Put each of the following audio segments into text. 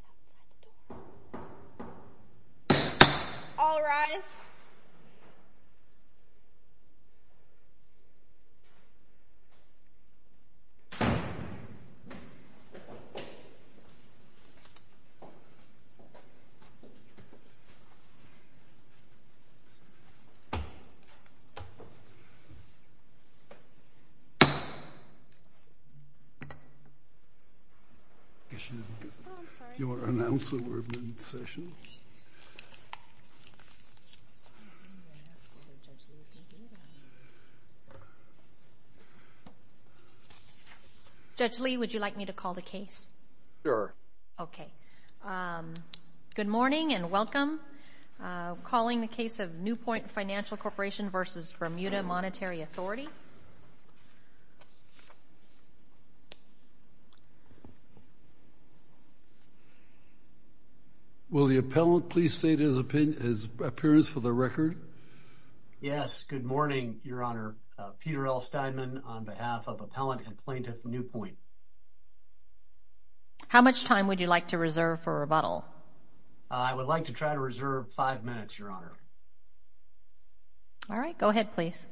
Right outside the door. All rise. I guess you didn't get your announcement. Judge Lee, would you like me to call the case? Sure. Okay. Good morning and welcome. I'm calling the case of Newpoint Financial Corporation v. Bermuda Monetary Authority. Will the appellant please state his appearance for the record? Yes. Good morning, Your Honor. Peter L. Steinman on behalf of Appellant and Plaintiff Newpoint. How much time would you like to reserve for rebuttal? I would like to try to reserve five minutes, Your Honor. All right. Go ahead, please.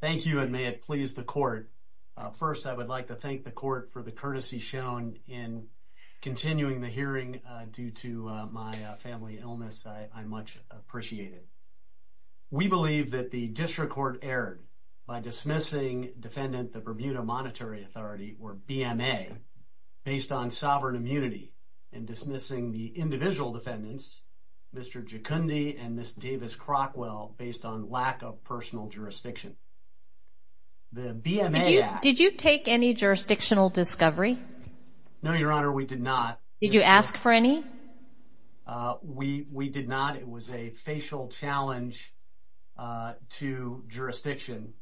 Thank you, and may it please the Court. First, I would like to thank the Court for the courtesy shown in continuing the hearing due to my family illness. I much appreciate it. We believe that the district court erred by dismissing defendant, the Bermuda Monetary Authority, or BMA, based on sovereign immunity and dismissing the individual defendants, Mr. Giacondi and Ms. Davis-Crockwell, based on lack of personal jurisdiction. The BMA Act… Did you take any jurisdictional discovery? No, Your Honor. We did not. Did you ask for any? We did not. It was a facial challenge to jurisdiction.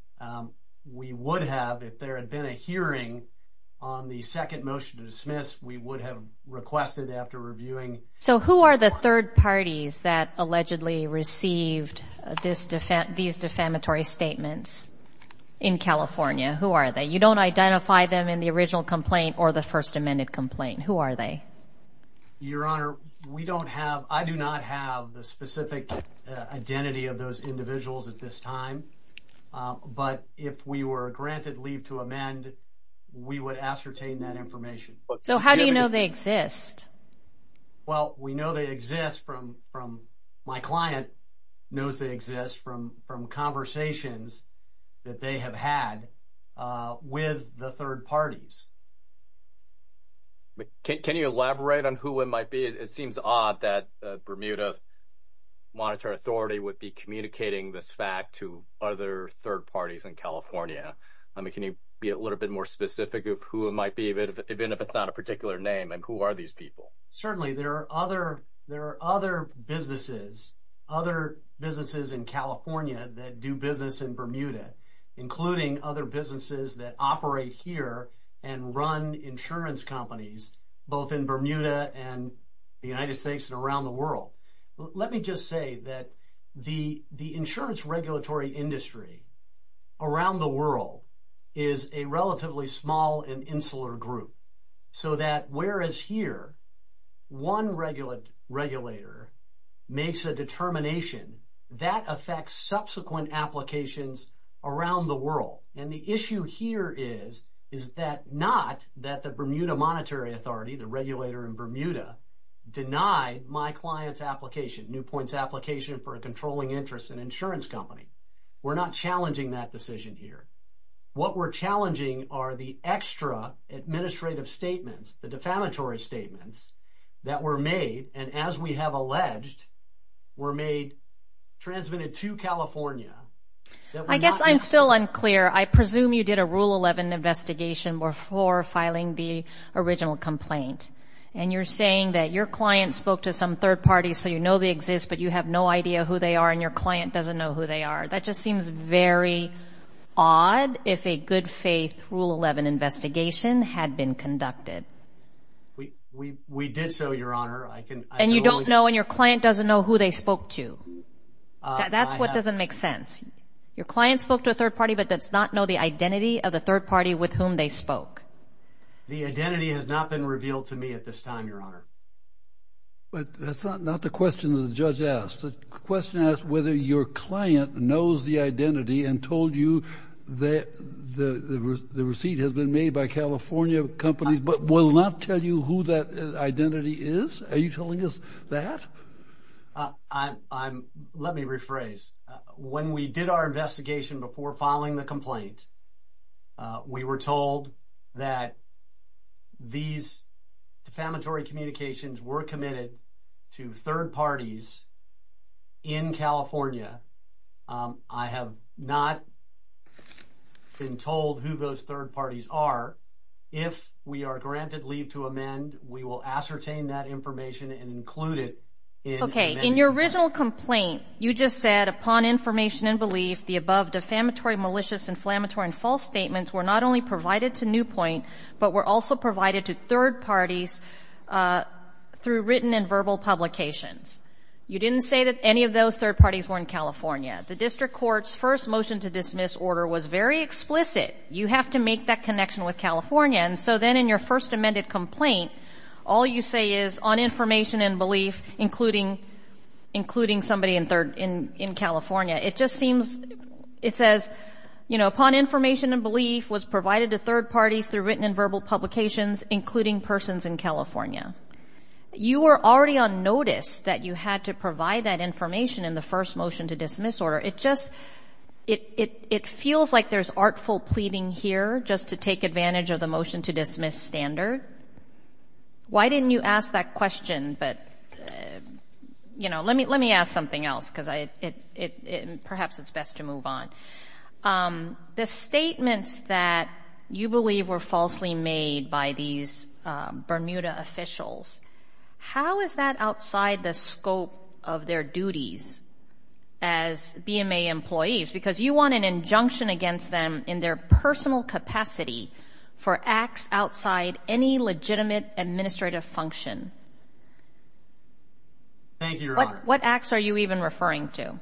We would have if there had been a hearing on the second motion to dismiss. We would have requested after reviewing. So who are the third parties that allegedly received these defamatory statements in California? Who are they? You don't identify them in the original complaint or the First Amendment complaint. Who are they? Your Honor, we don't have – I do not have the specific identity of those individuals at this time. But if we were granted leave to amend, we would ascertain that information. So how do you know they exist? Well, we know they exist from – my client knows they exist from conversations that they have had with the third parties. Can you elaborate on who it might be? It seems odd that Bermuda Monetary Authority would be communicating this fact to other third parties in California. Can you be a little bit more specific of who it might be, even if it's not a particular name, and who are these people? Certainly. There are other businesses, other businesses in California that do business in Bermuda, including other businesses that operate here and run insurance companies, both in Bermuda and the United States and around the world. Let me just say that the insurance regulatory industry around the world is a relatively small and insular group, so that whereas here, one regulator makes a determination, that affects subsequent applications around the world. And the issue here is, is that not that the Bermuda Monetary Authority, the regulator in Bermuda, denied my client's application, Newpoint's application for a controlling interest in an insurance company. We're not challenging that decision here. What we're challenging are the extra administrative statements, the defamatory statements that were made, and as we have alleged, were made, transmitted to California. I guess I'm still unclear. I presume you did a Rule 11 investigation before filing the original complaint, and you're saying that your client spoke to some third parties, so you know they exist, but you have no idea who they are, and your client doesn't know who they are. That just seems very odd if a good faith Rule 11 investigation had been conducted. We did so, Your Honor. And you don't know, and your client doesn't know who they spoke to. That's what doesn't make sense. Your client spoke to a third party, but does not know the identity of the third party with whom they spoke. The identity has not been revealed to me at this time, Your Honor. But that's not the question that the judge asked. The question asked whether your client knows the identity and told you the receipt has been made by California companies, but will not tell you who that identity is? Are you telling us that? Let me rephrase. When we did our investigation before filing the complaint, we were told that these defamatory communications were committed to third parties in California. I have not been told who those third parties are. If we are granted leave to amend, we will ascertain that information and include it in the amendment. In your original complaint, you just said upon information and belief, the above defamatory, malicious, inflammatory, and false statements were not only provided to Newpoint, but were also provided to third parties through written and verbal publications. You didn't say that any of those third parties were in California. The district court's first motion to dismiss order was very explicit. You have to make that connection with California. And so then in your first amended complaint, all you say is on information and belief, including somebody in California. It just seems, it says, you know, upon information and belief, was provided to third parties through written and verbal publications, including persons in California. You were already on notice that you had to provide that information in the first motion to dismiss order. It just, it feels like there's artful pleading here just to take advantage of the motion to dismiss standard. Why didn't you ask that question? But, you know, let me ask something else because perhaps it's best to move on. The statements that you believe were falsely made by these Bermuda officials, how is that outside the scope of their duties as BMA employees? Because you want an injunction against them in their personal capacity for acts outside any legitimate administrative function. Thank you, Your Honor. What acts are you even referring to?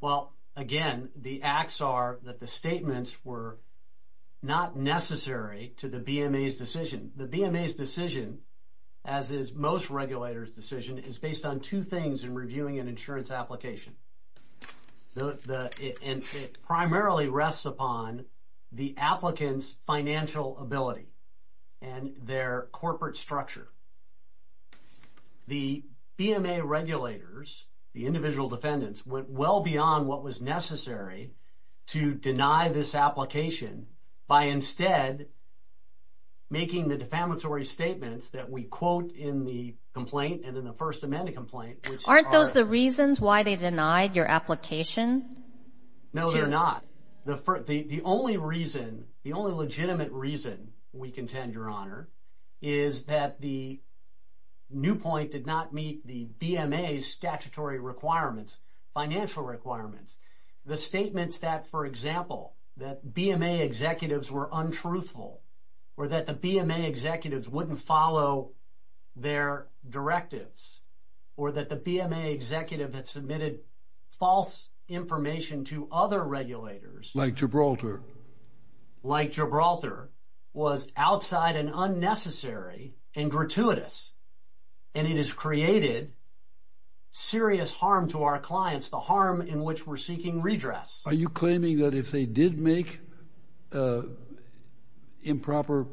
Well, again, the acts are that the statements were not necessary to the BMA's decision. The BMA's decision, as is most regulators' decision, is based on two things in reviewing an insurance application. It primarily rests upon the applicant's financial ability and their corporate structure. The BMA regulators, the individual defendants, went well beyond what was necessary to deny this application by instead making the defamatory statements that we quote in the complaint and in the First Amendment complaint, which are- Aren't those the reasons why they denied your application? No, they're not. The only reason, the only legitimate reason, we contend, Your Honor, is that the new point did not meet the BMA's statutory requirements, financial requirements. The statements that, for example, that BMA executives were untruthful or that the BMA executives wouldn't follow their directives or that the BMA executive had submitted false information to other regulators- Like Gibraltar. Like Gibraltar, was outside and unnecessary and gratuitous, and it has created serious harm to our clients, the harm in which we're seeking redress. Are you claiming that if they did make improper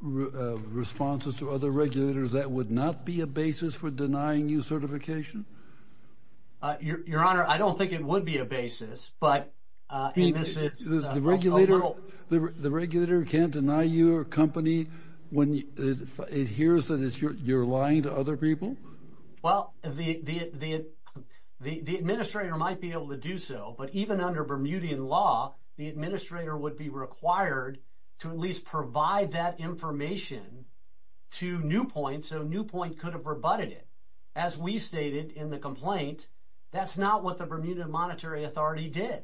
responses to other regulators, that would not be a basis for denying you certification? Your Honor, I don't think it would be a basis, but- The regulator can't deny you a company when it hears that you're lying to other people? Well, the administrator might be able to do so, but even under Bermudian law, the administrator would be required to at least provide that information to Newpoint, so Newpoint could have rebutted it. As we stated in the complaint, that's not what the Bermudian Monetary Authority did.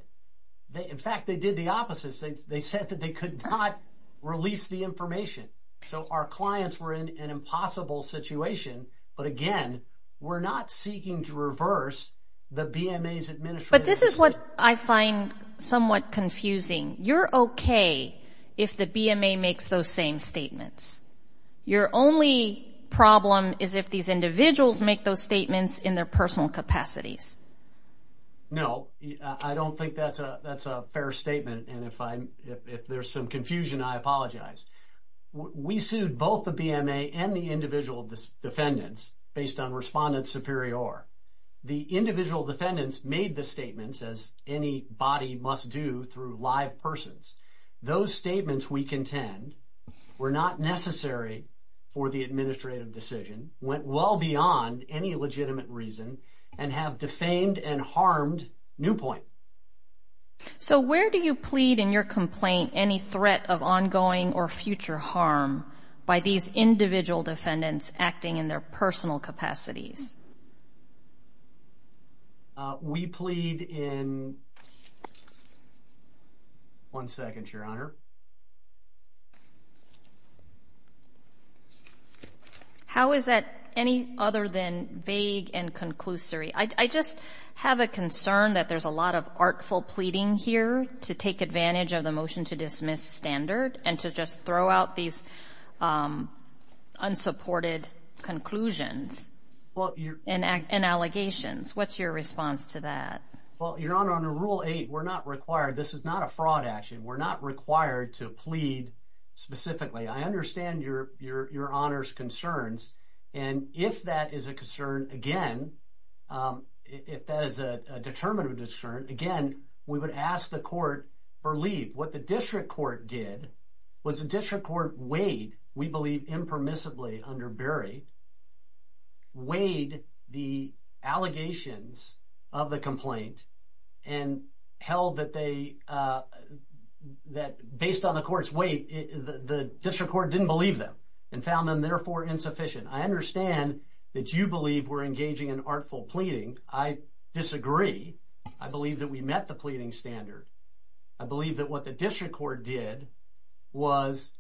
In fact, they did the opposite. They said that they could not release the information, so our clients were in an impossible situation, but again, we're not seeking to reverse the BMA's administrative- But this is what I find somewhat confusing. You're okay if the BMA makes those same statements. Your only problem is if these individuals make those statements in their personal capacities. No, I don't think that's a fair statement, and if there's some confusion, I apologize. We sued both the BMA and the individual defendants based on Respondent Superior. The individual defendants made the statements, as any body must do through live persons. Those statements, we contend, were not necessary for the administrative decision, went well beyond any legitimate reason, and have defamed and harmed Newpoint. So where do you plead in your complaint any threat of ongoing or future harm by these individual defendants acting in their personal capacities? We plead in- One second, Your Honor. How is that any other than vague and conclusory? I just have a concern that there's a lot of artful pleading here to take advantage of the motion to dismiss standard and to just throw out these unsupported conclusions and allegations. What's your response to that? Well, Your Honor, under Rule 8, we're not required- This is not a fraud action. We're not required to plead specifically. I understand Your Honor's concerns, and if that is a concern, again, if that is a determinative concern, again, we would ask the court for leave. What the district court did was the district court weighed, we believe impermissibly under Berry, weighed the allegations of the complaint and held that based on the court's weight, the district court didn't believe them and found them, therefore, insufficient. I understand that you believe we're engaging in artful pleading. I disagree. I believe that we met the pleading standard. I believe that what the district court did was,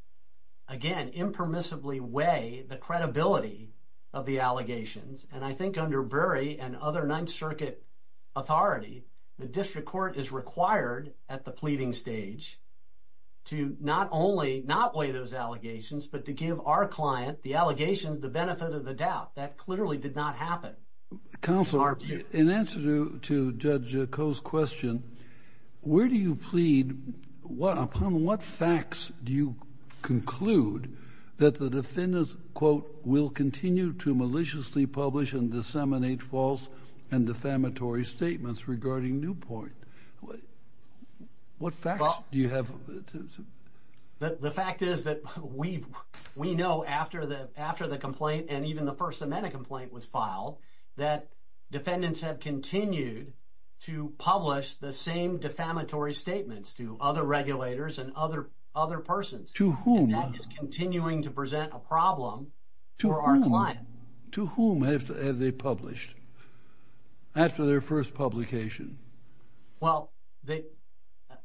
again, impermissibly weigh the credibility of the allegations, and I think under Berry and other Ninth Circuit authority, the district court is required at the pleading stage to not only not weigh those allegations but to give our client, the allegations, the benefit of the doubt. That clearly did not happen. Counselor, in answer to Judge Coe's question, where do you plead? Upon what facts do you conclude that the defendants, quote, will continue to maliciously publish and disseminate false and defamatory statements regarding Newpoint? What facts do you have? The fact is that we know after the complaint and even the First Amendment complaint was filed that defendants have continued to publish the same defamatory statements to other regulators and other persons. To whom? And that is continuing to present a problem for our client. To whom have they published after their first publication? Well,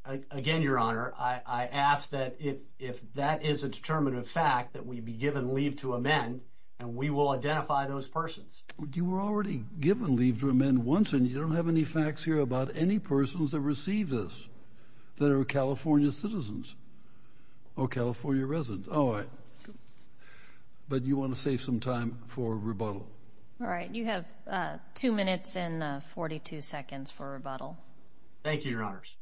again, Your Honor, I ask that if that is a determinative fact that we be given leave to amend and we will identify those persons. You were already given leave to amend once, and you don't have any facts here about any persons that received this that are California citizens or California residents. All right. But you want to save some time for rebuttal. All right. You have two minutes and 42 seconds for rebuttal. Thank you, Your Honors.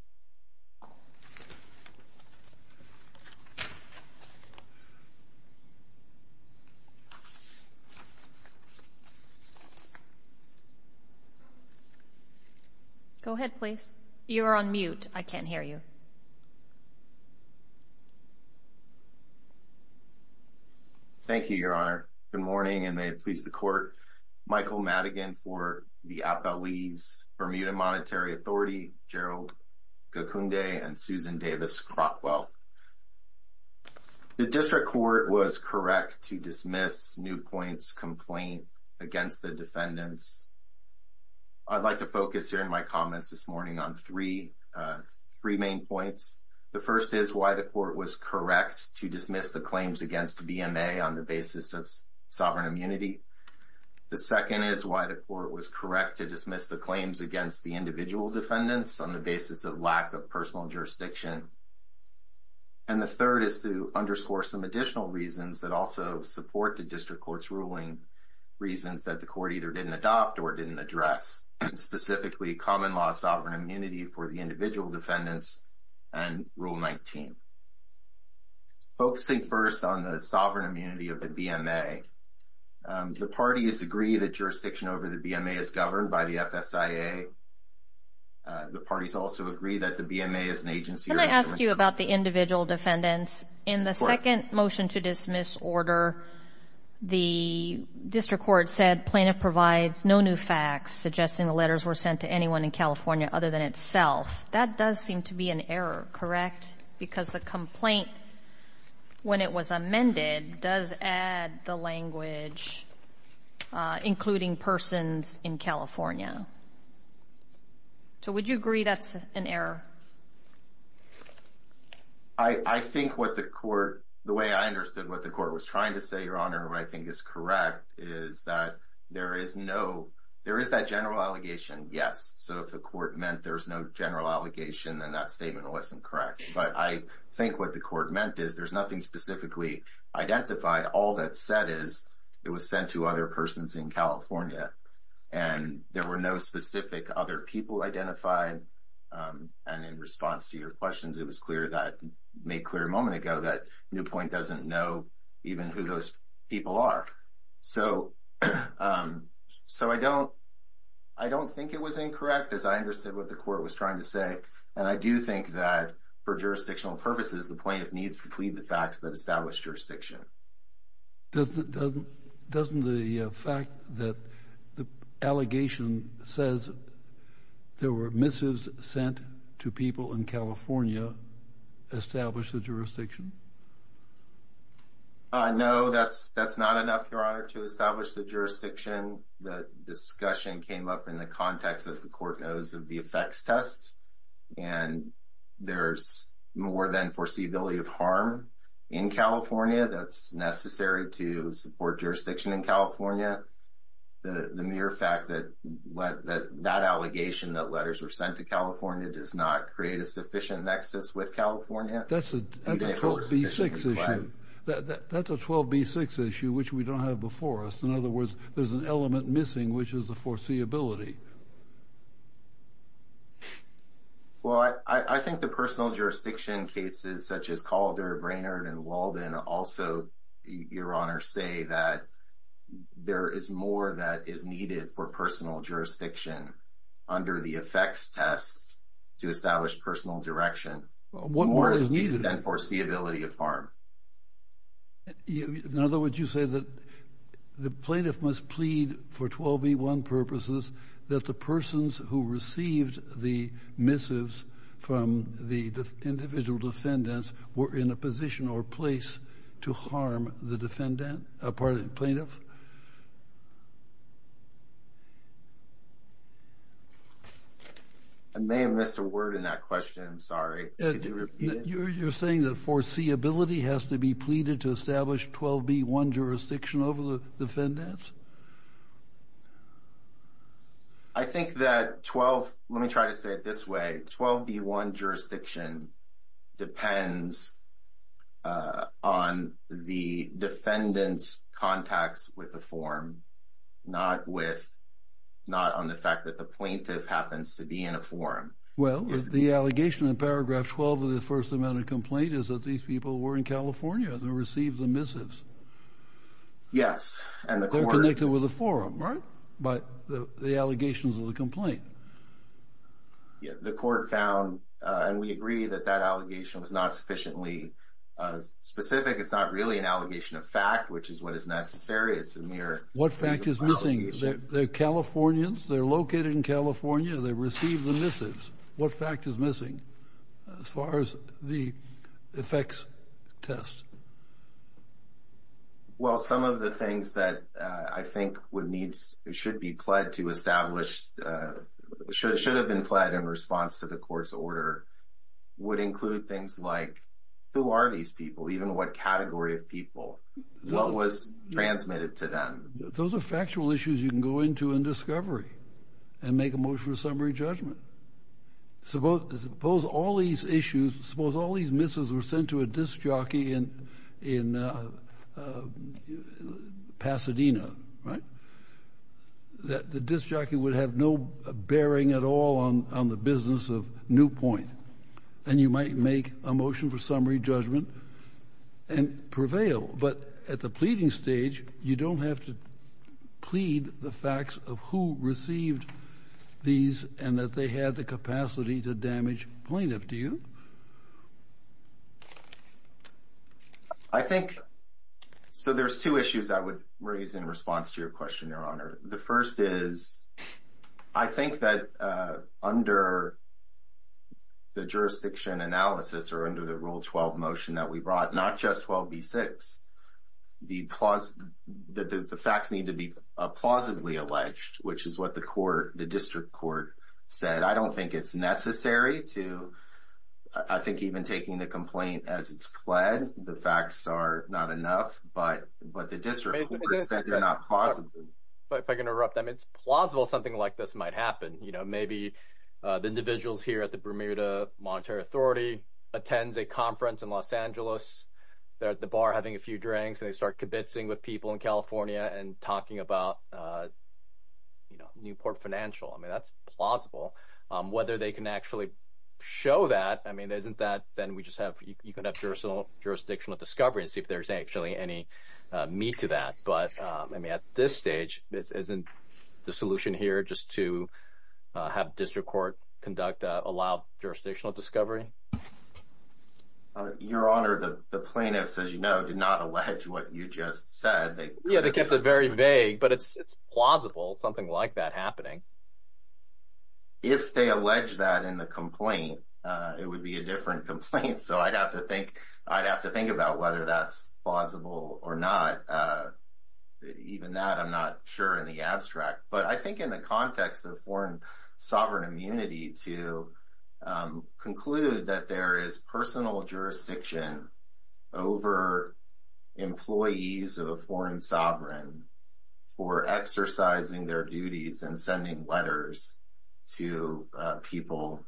Go ahead, please. You're on mute. I can't hear you. Thank you, Your Honor. Good morning, and may it please the Court. Michael Madigan for the Appellee's Bermuda Monetary Authority, Gerald Gakunde, and Susan Davis Crockwell. The district court was correct to dismiss Newpoint's complaint against the court against the defendants. I'd like to focus here in my comments this morning on three main points. The first is why the court was correct to dismiss the claims against BMA on the basis of sovereign immunity. The second is why the court was correct to dismiss the claims against the individual defendants on the basis of lack of personal jurisdiction. And the third is to underscore some additional reasons that also support the court either didn't adopt or didn't address, specifically common law sovereign immunity for the individual defendants and Rule 19. Focusing first on the sovereign immunity of the BMA, the parties agree that jurisdiction over the BMA is governed by the FSIA. The parties also agree that the BMA is an agency or instrument. Can I ask you about the individual defendants? Of course. The second motion to dismiss order, the district court said plaintiff provides no new facts, suggesting the letters were sent to anyone in California other than itself. That does seem to be an error, correct? Because the complaint, when it was amended, does add the language including persons in California. So would you agree that's an error? I think what the court, the way I understood what the court was trying to say, Your Honor, what I think is correct is that there is no, there is that general allegation. Yes. So if the court meant there was no general allegation, then that statement wasn't correct. But I think what the court meant is there's nothing specifically identified. All that said is it was sent to other persons in California and there were no specific other people identified. And in response to your questions, it was clear that, made clear a moment ago that Newpoint doesn't know even who those people are. So I don't think it was incorrect, as I understood what the court was trying to say. And I do think that for jurisdictional purposes, the plaintiff needs to plead the facts that establish jurisdiction. Doesn't the fact that the allegation says there were missives sent to people in California establish the jurisdiction? No, that's not enough, Your Honor, to establish the jurisdiction. The discussion came up in the context, as the court knows, of the effects test. And there's more than foreseeability of harm in California. That's necessary to support jurisdiction in California. The mere fact that that allegation, that letters were sent to California, does not create a sufficient nexus with California. That's a 12B6 issue. Right. That's a 12B6 issue, which we don't have before us. In other words, there's an element missing, which is the foreseeability. Well, I think the personal jurisdiction cases, such as Calder, Brainard, and Walden, also, Your Honor, say that there is more that is needed for personal jurisdiction under the effects test to establish personal direction. More is needed than foreseeability of harm. In other words, you say that the plaintiff must plead for 12B1 purposes that the persons who received the missives from the individual defendants were in a position or place to harm the plaintiff? I may have missed a word in that question. I'm sorry. You're saying that foreseeability has to be pleaded to establish 12B1 jurisdiction over the defendants? I think that 12—let me try to say it this way. 12B1 jurisdiction depends on the defendants' contacts with the forum, not on the fact that the plaintiff happens to be in a forum. Well, the allegation in paragraph 12 of the first amendment complaint is that these people were in California and received the missives. Yes, and the court— They're connected with the forum, right? By the allegations of the complaint. Yeah, the court found, and we agree that that allegation was not sufficiently specific. It's not really an allegation of fact, which is what is necessary. It's a mere— What fact is missing? They're Californians. They're located in California. They received the missives. What fact is missing as far as the effects test? Well, some of the things that I think would need—should be pled to establish— should have been pled in response to the court's order would include things like, who are these people? Even what category of people? What was transmitted to them? Those are factual issues you can go into in discovery and make a motion of summary judgment. Suppose all these issues— Suppose all these missives were sent to a disc jockey in Pasadena, right? The disc jockey would have no bearing at all on the business of Newpoint. And you might make a motion for summary judgment and prevail. But at the pleading stage, you don't have to plead the facts of who received these and that they had the capacity to damage plaintiff, do you? I think—so there's two issues I would raise in response to your question, Your Honor. The first is, I think that under the jurisdiction analysis or under the Rule 12 motion that we brought, not just 12b-6, the facts need to be plausibly alleged, which is what the district court said. I don't think it's necessary to—I think even taking the complaint as it's pled, the facts are not enough, but the district court said they're not plausible. If I can interrupt, it's plausible something like this might happen. Maybe the individuals here at the Bermuda Monetary Authority attends a conference in Los Angeles. They're at the bar having a few drinks, and they start kibitzing with people in California and talking about Newport Financial. I mean, that's plausible. Whether they can actually show that, I mean, isn't that—then we just have— you can have jurisdictional discovery and see if there's actually any meat to that. But, I mean, at this stage, isn't the solution here just to have district court conduct allowed jurisdictional discovery? Your Honor, the plaintiffs, as you know, did not allege what you just said. Yeah, they kept it very vague, but it's plausible something like that happening. If they allege that in the complaint, it would be a different complaint, so I'd have to think about whether that's plausible or not. Even that, I'm not sure in the abstract. But I think in the context of foreign sovereign immunity, to conclude that there is personal jurisdiction over employees of a foreign sovereign for exercising their duties and sending letters to people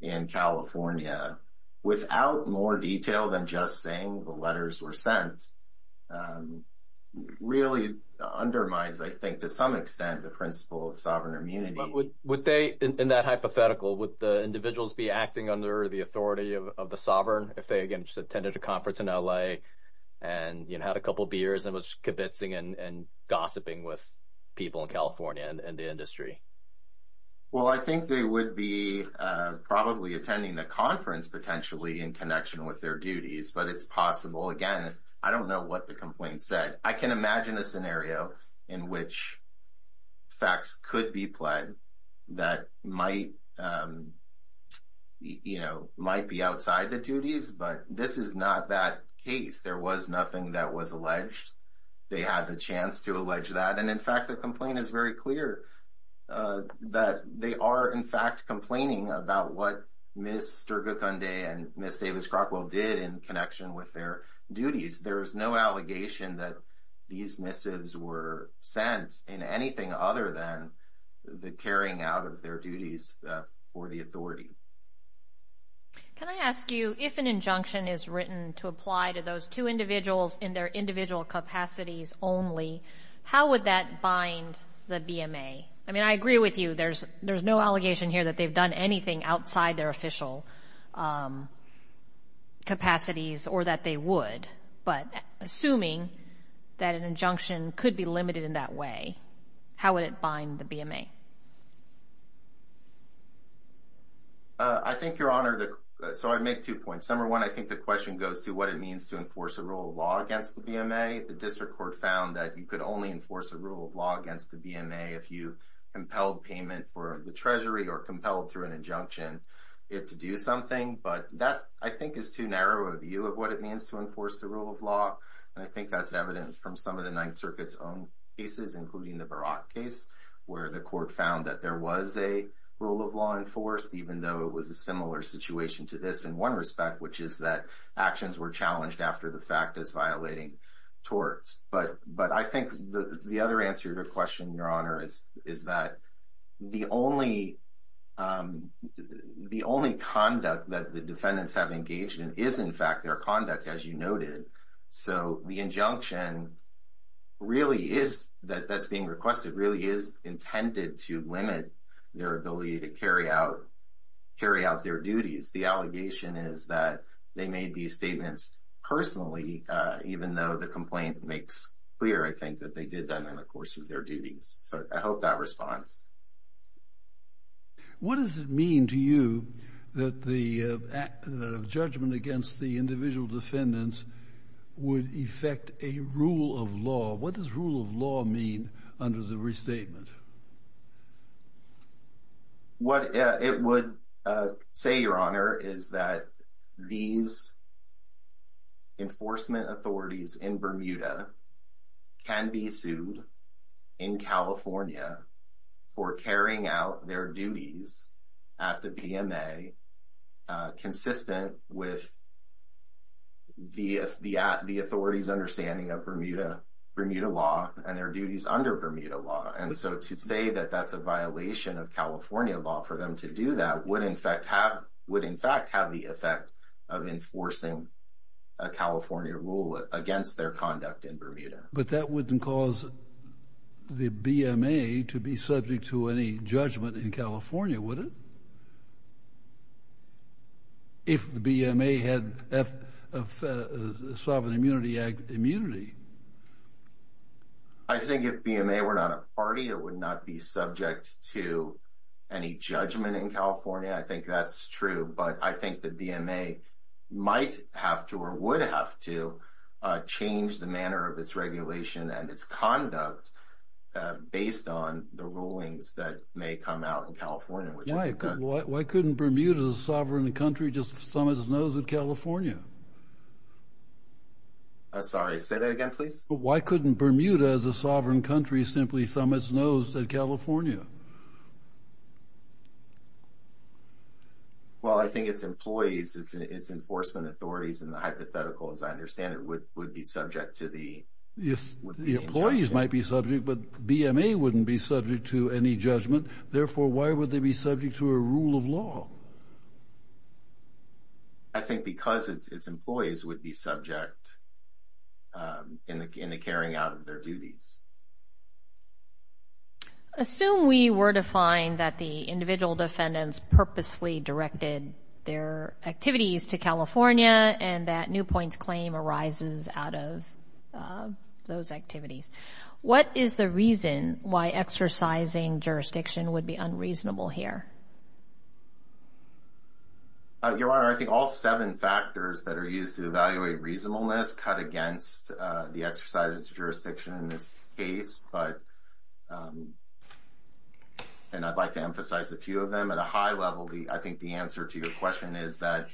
in California without more detail than just saying the letters were sent really undermines, I think, to some extent, the principle of sovereign immunity. But would they, in that hypothetical, would the individuals be acting under the authority of the sovereign if they, again, just attended a conference in L.A. and had a couple beers and was just kibitzing and gossiping with people in California and the industry? Well, I think they would be probably attending the conference, potentially, in connection with their duties, but it's possible. Again, I don't know what the complaint said. I can imagine a scenario in which facts could be pled that might be outside the duties, but this is not that case. There was nothing that was alleged. They had the chance to allege that. And, in fact, the complaint is very clear that they are, in fact, complaining about what Ms. Sturgacunde and Ms. Davis-Crockwell did in connection with their duties. There is no allegation that these missives were sent in anything other than the carrying out of their duties for the authority. Can I ask you, if an injunction is written to apply to those two individuals in their individual capacities only, how would that bind the BMA? I mean, I agree with you. There's no allegation here that they've done anything outside their official capacities or that they would, but assuming that an injunction could be limited in that way, how would it bind the BMA? I think, Your Honor, so I'd make two points. Number one, I think the question goes to what it means to enforce a rule of law against the BMA. The district court found that you could only enforce a rule of law against the BMA if you impelled payment for the Treasury or compelled through an injunction it to do something. But that, I think, is too narrow a view of what it means to enforce the rule of law, and I think that's evidence from some of the Ninth Circuit's own cases, including the Barat case, where the court found that there was a rule of law enforced, even though it was a similar situation to this in one respect, which is that actions were challenged after the fact as violating torts. But I think the other answer to your question, Your Honor, is that the only conduct that the defendants have engaged in is, in fact, their conduct, as you noted. So the injunction that's being requested really is intended to limit their ability to carry out their duties. The allegation is that they made these statements personally, even though the complaint makes clear, I think, that they did that in the course of their duties. So I hope that responds. What does it mean to you that the judgment against the individual defendants would affect a rule of law? What does rule of law mean under the restatement? What it would say, Your Honor, is that these enforcement authorities in Bermuda can be sued in California for carrying out their duties at the PMA, consistent with the authorities' understanding of Bermuda law and their duties under Bermuda law. And so to say that that's a violation of California law for them to do that would, in fact, have the effect of enforcing a California rule against their conduct in Bermuda. But that wouldn't cause the BMA to be subject to any judgment in California, would it, if the BMA had a sovereign immunity act immunity? I think if BMA were not a party, it would not be subject to any judgment in California. I think that's true. But I think the BMA might have to or would have to change the manner of its regulation and its conduct based on the rulings that may come out in California. Why couldn't Bermuda, a sovereign country, just thumb its nose at California? Sorry, say that again, please. Why couldn't Bermuda, as a sovereign country, simply thumb its nose at California? Well, I think its employees, its enforcement authorities, and the hypothetical, as I understand it, would be subject to the... The employees might be subject, but BMA wouldn't be subject to any judgment. Therefore, why would they be subject to a rule of law? I think because its employees would be subject in the carrying out of their duties. Assume we were to find that the individual defendants purposely directed their activities to California and that Newpoint's claim arises out of those activities. What is the reason why exercising jurisdiction would be unreasonable here? Your Honor, I think all seven factors that are used to evaluate reasonableness cut against the exercise of jurisdiction in this case. And I'd like to emphasize a few of them. At a high level, I think the answer to your question is that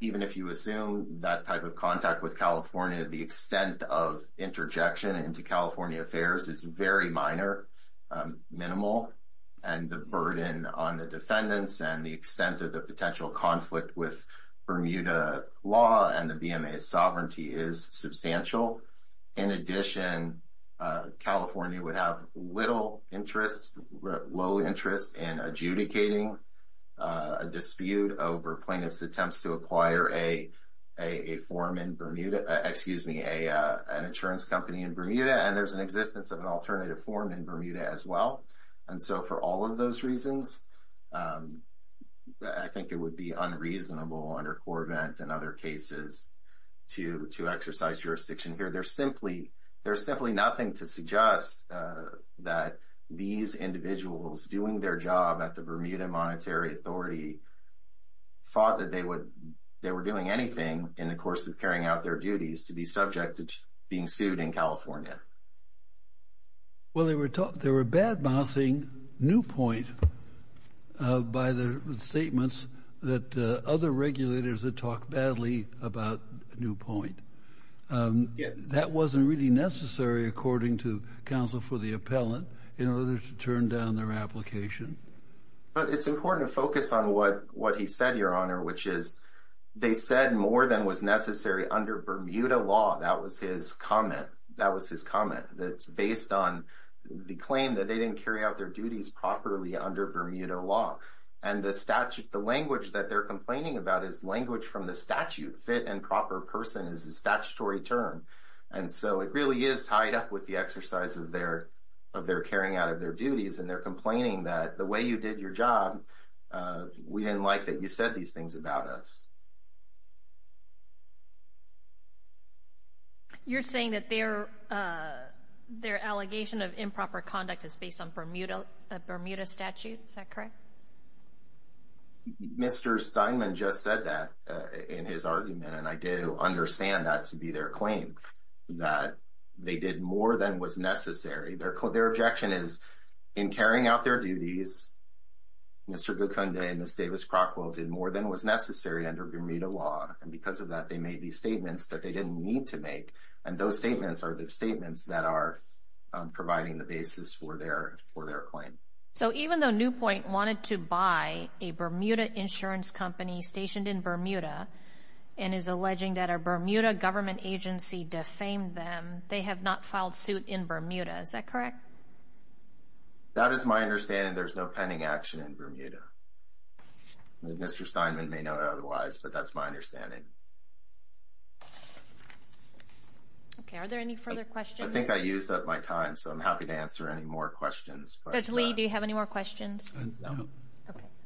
even if you assume that type of contact with California, the extent of interjection into California affairs is very minor, minimal, and the burden on the defendants and the extent of the potential conflict with Bermuda law and the BMA's sovereignty is substantial. In addition, California would have little interest, low interest, in adjudicating a dispute over plaintiffs' attempts to acquire a form in Bermuda... excuse me, an insurance company in Bermuda, and there's an existence of an alternative form in Bermuda as well. And so for all of those reasons, I think it would be unreasonable under Corvent and other cases to exercise jurisdiction here. There's simply nothing to suggest that these individuals doing their job at the Bermuda Monetary Authority thought that they were doing anything in the course of carrying out their duties to be subject to being sued in California. Well, they were badmouthing Newpoint by the statements that other regulators had talked badly about Newpoint. That wasn't really necessary, according to counsel for the appellant, in order to turn down their application. But it's important to focus on what he said, Your Honor, which is they said more than was necessary under Bermuda law. That was his comment. That was his comment. That's based on the claim that they didn't carry out their duties properly under Bermuda law. And the language that they're complaining about is language from the statute, fit and proper person is a statutory term. And so it really is tied up with the exercise of their carrying out of their duties. And they're complaining that the way you did your job, we didn't like that you said these things about us. You're saying that their allegation of improper conduct is based on Bermuda statute. Is that correct? Mr. Steinman just said that in his argument, and I do understand that to be their claim, that they did more than was necessary. Their objection is in carrying out their duties, Mr. Guconde and Ms. Davis-Crockwell did more than was necessary under Bermuda law. And because of that, they made these statements that they didn't need to make. And those statements are the statements that are providing the basis for their claim. So even though Newpoint wanted to buy a Bermuda insurance company stationed in Bermuda, and is alleging that a Bermuda government agency defamed them, they have not filed suit in Bermuda. Is that correct? That is my understanding. There's no pending action in Bermuda. Mr. Steinman may know otherwise, but that's my understanding. Okay. Are there any further questions? I think I used up my time, so I'm happy to answer any more questions. Judge Lee, do you have any more questions? No.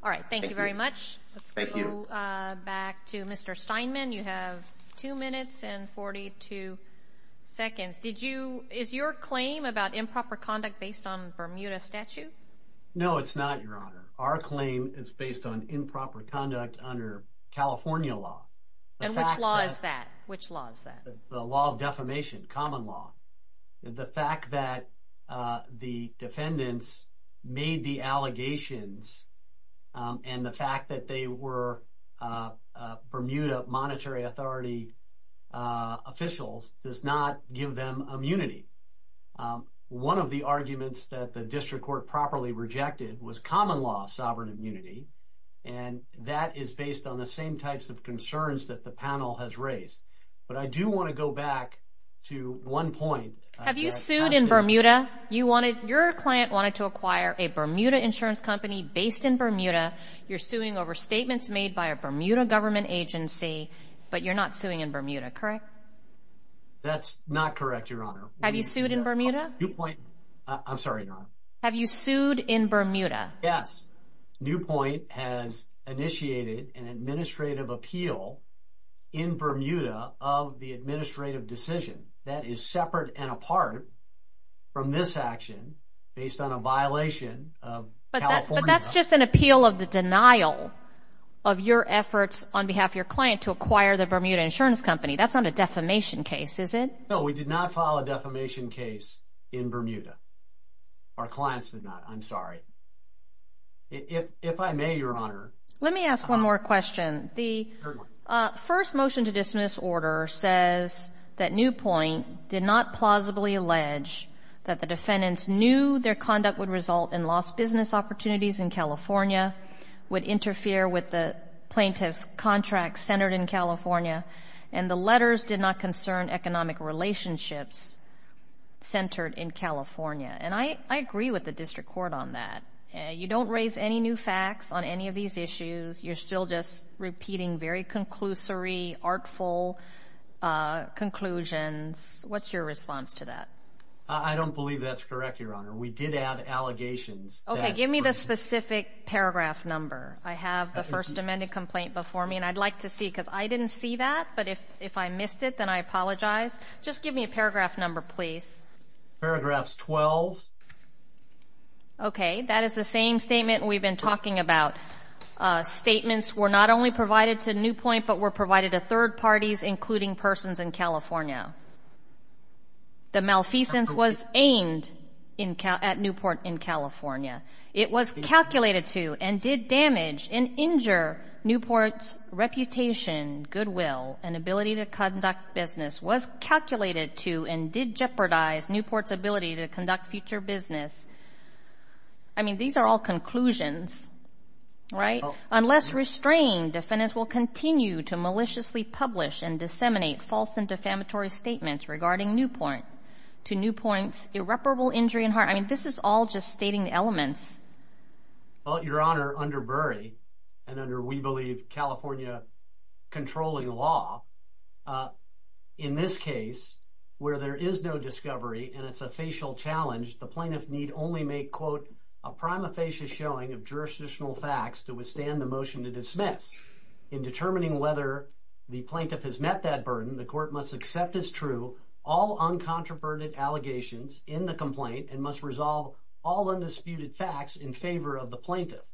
All right. Thank you very much. Thank you. Let's go back to Mr. Steinman. You have two minutes and 42 seconds. Is your claim about improper conduct based on Bermuda statute? No, it's not, Your Honor. Our claim is based on improper conduct under California law. And which law is that? The law of defamation, common law. The fact that the defendants made the allegations, and the fact that they were Bermuda monetary authority officials, does not give them immunity. One of the arguments that the district court properly rejected was common law sovereign immunity, and that is based on the same types of concerns that the panel has raised. But I do want to go back to one point. Have you sued in Bermuda? Your client wanted to acquire a Bermuda insurance company based in Bermuda. You're suing over statements made by a Bermuda government agency, but you're not suing in Bermuda, correct? That's not correct, Your Honor. Have you sued in Bermuda? I'm sorry, Your Honor. Have you sued in Bermuda? Yes. Newpoint has initiated an administrative appeal in Bermuda of the administrative decision that is separate and apart from this action based on a violation of California law. That's just an appeal of the denial of your efforts on behalf of your client to acquire the Bermuda insurance company. That's not a defamation case, is it? No, we did not file a defamation case in Bermuda. Our clients did not. I'm sorry. If I may, Your Honor. Let me ask one more question. The first motion to dismiss order says that Newpoint did not plausibly allege that the defendants knew their conduct would result in lost business opportunities in California, would interfere with the plaintiff's contract centered in California, and the letters did not concern economic relationships centered in California. And I agree with the district court on that. You don't raise any new facts on any of these issues. You're still just repeating very conclusory, artful conclusions. What's your response to that? I don't believe that's correct, Your Honor. We did add allegations. Give me the specific paragraph number. I have the first amended complaint before me, and I'd like to see it because I didn't see that. But if I missed it, then I apologize. Just give me a paragraph number, please. Paragraphs 12. Okay. That is the same statement we've been talking about. Statements were not only provided to Newpoint but were provided to third parties including persons in California. The malfeasance was aimed at Newport in California. It was calculated to and did damage and injure Newport's reputation, goodwill, and ability to conduct business, was calculated to and did jeopardize Newport's ability to conduct future business. I mean, these are all conclusions, right? Unless restrained, defendants will continue to maliciously publish and disseminate false and defamatory statements regarding Newport to Newport's irreparable injury and harm. I mean, this is all just stating the elements. Well, Your Honor, under Burry and under, we believe, California controlling law, in this case where there is no discovery and it's a facial challenge, the plaintiff need only make, quote, a prima facie showing of jurisdictional facts to withstand the motion to dismiss. In determining whether the plaintiff has met that burden, the court must accept as true all uncontroverted allegations in the complaint and must resolve all undisputed facts in favor of the plaintiff.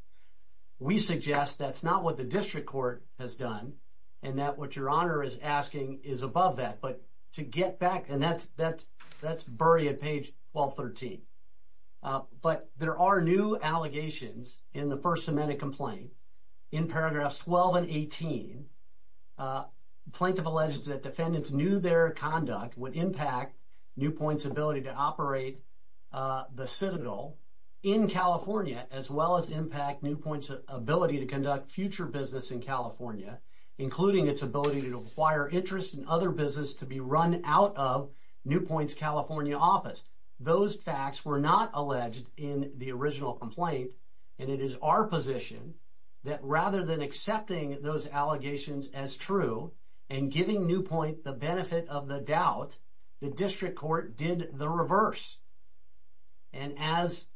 We suggest that's not what the district court has done and that what Your Honor is asking is above that. But to get back, and that's Burry at page 1213. But there are new allegations in the First Amendment complaint. In paragraphs 12 and 18, plaintiff alleges that defendants knew their conduct would impact Newport's ability to operate the Citadel in California as well as impact Newport's ability to conduct future business in California, including its ability to acquire interest in other business to be run out of Newport's California office. Those facts were not alleged in the original complaint and it is our position that rather than accepting those allegations as true and giving Newport the benefit of the doubt, the district court did the reverse. And as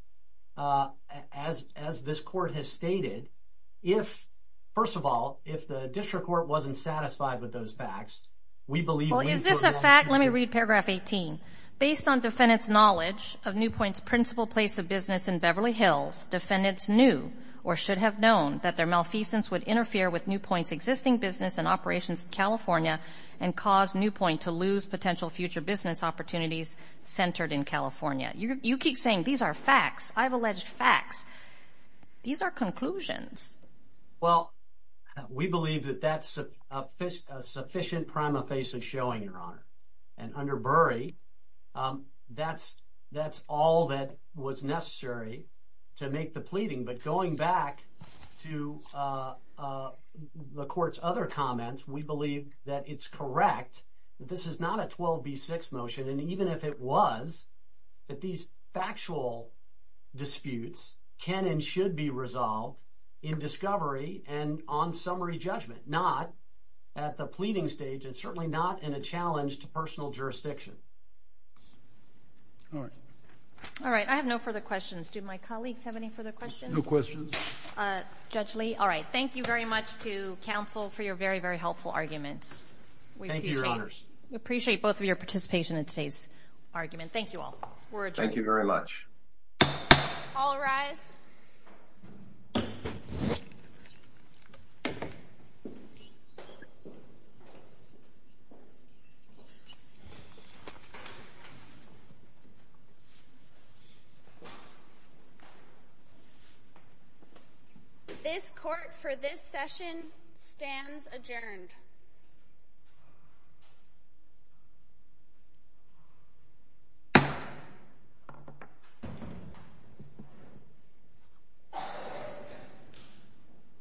this court has stated, if, first of all, if the district court wasn't satisfied with those facts, we believe Newport... Well, is this a fact? Let me read paragraph 18. Based on defendant's knowledge of Newport's principal place of business in Beverly Hills, defendants knew or should have known that their malfeasance would interfere with Newport's existing business and operations in California and cause Newport to lose potential future business opportunities centered in California. You keep saying these are facts. I've alleged facts. These are conclusions. Well, we believe that that's a sufficient prima facie showing, Your Honor. And under Burry, that's all that was necessary to make the pleading. But going back to the court's other comments, we believe that it's correct that this is not a 12b6 motion and even if it was, that these factual disputes can and should be resolved in discovery and on summary judgment, not at the pleading stage and certainly not in a challenge to personal jurisdiction. All right. All right. I have no further questions. Do my colleagues have any further questions? No questions. Judge Lee, all right. Thank you very much to counsel for your very, very helpful arguments. Thank you, Your Honors. We appreciate both of your participation in today's argument. Thank you all. We're adjourned. Thank you very much. All rise. This court for this session stands adjourned. Thank you.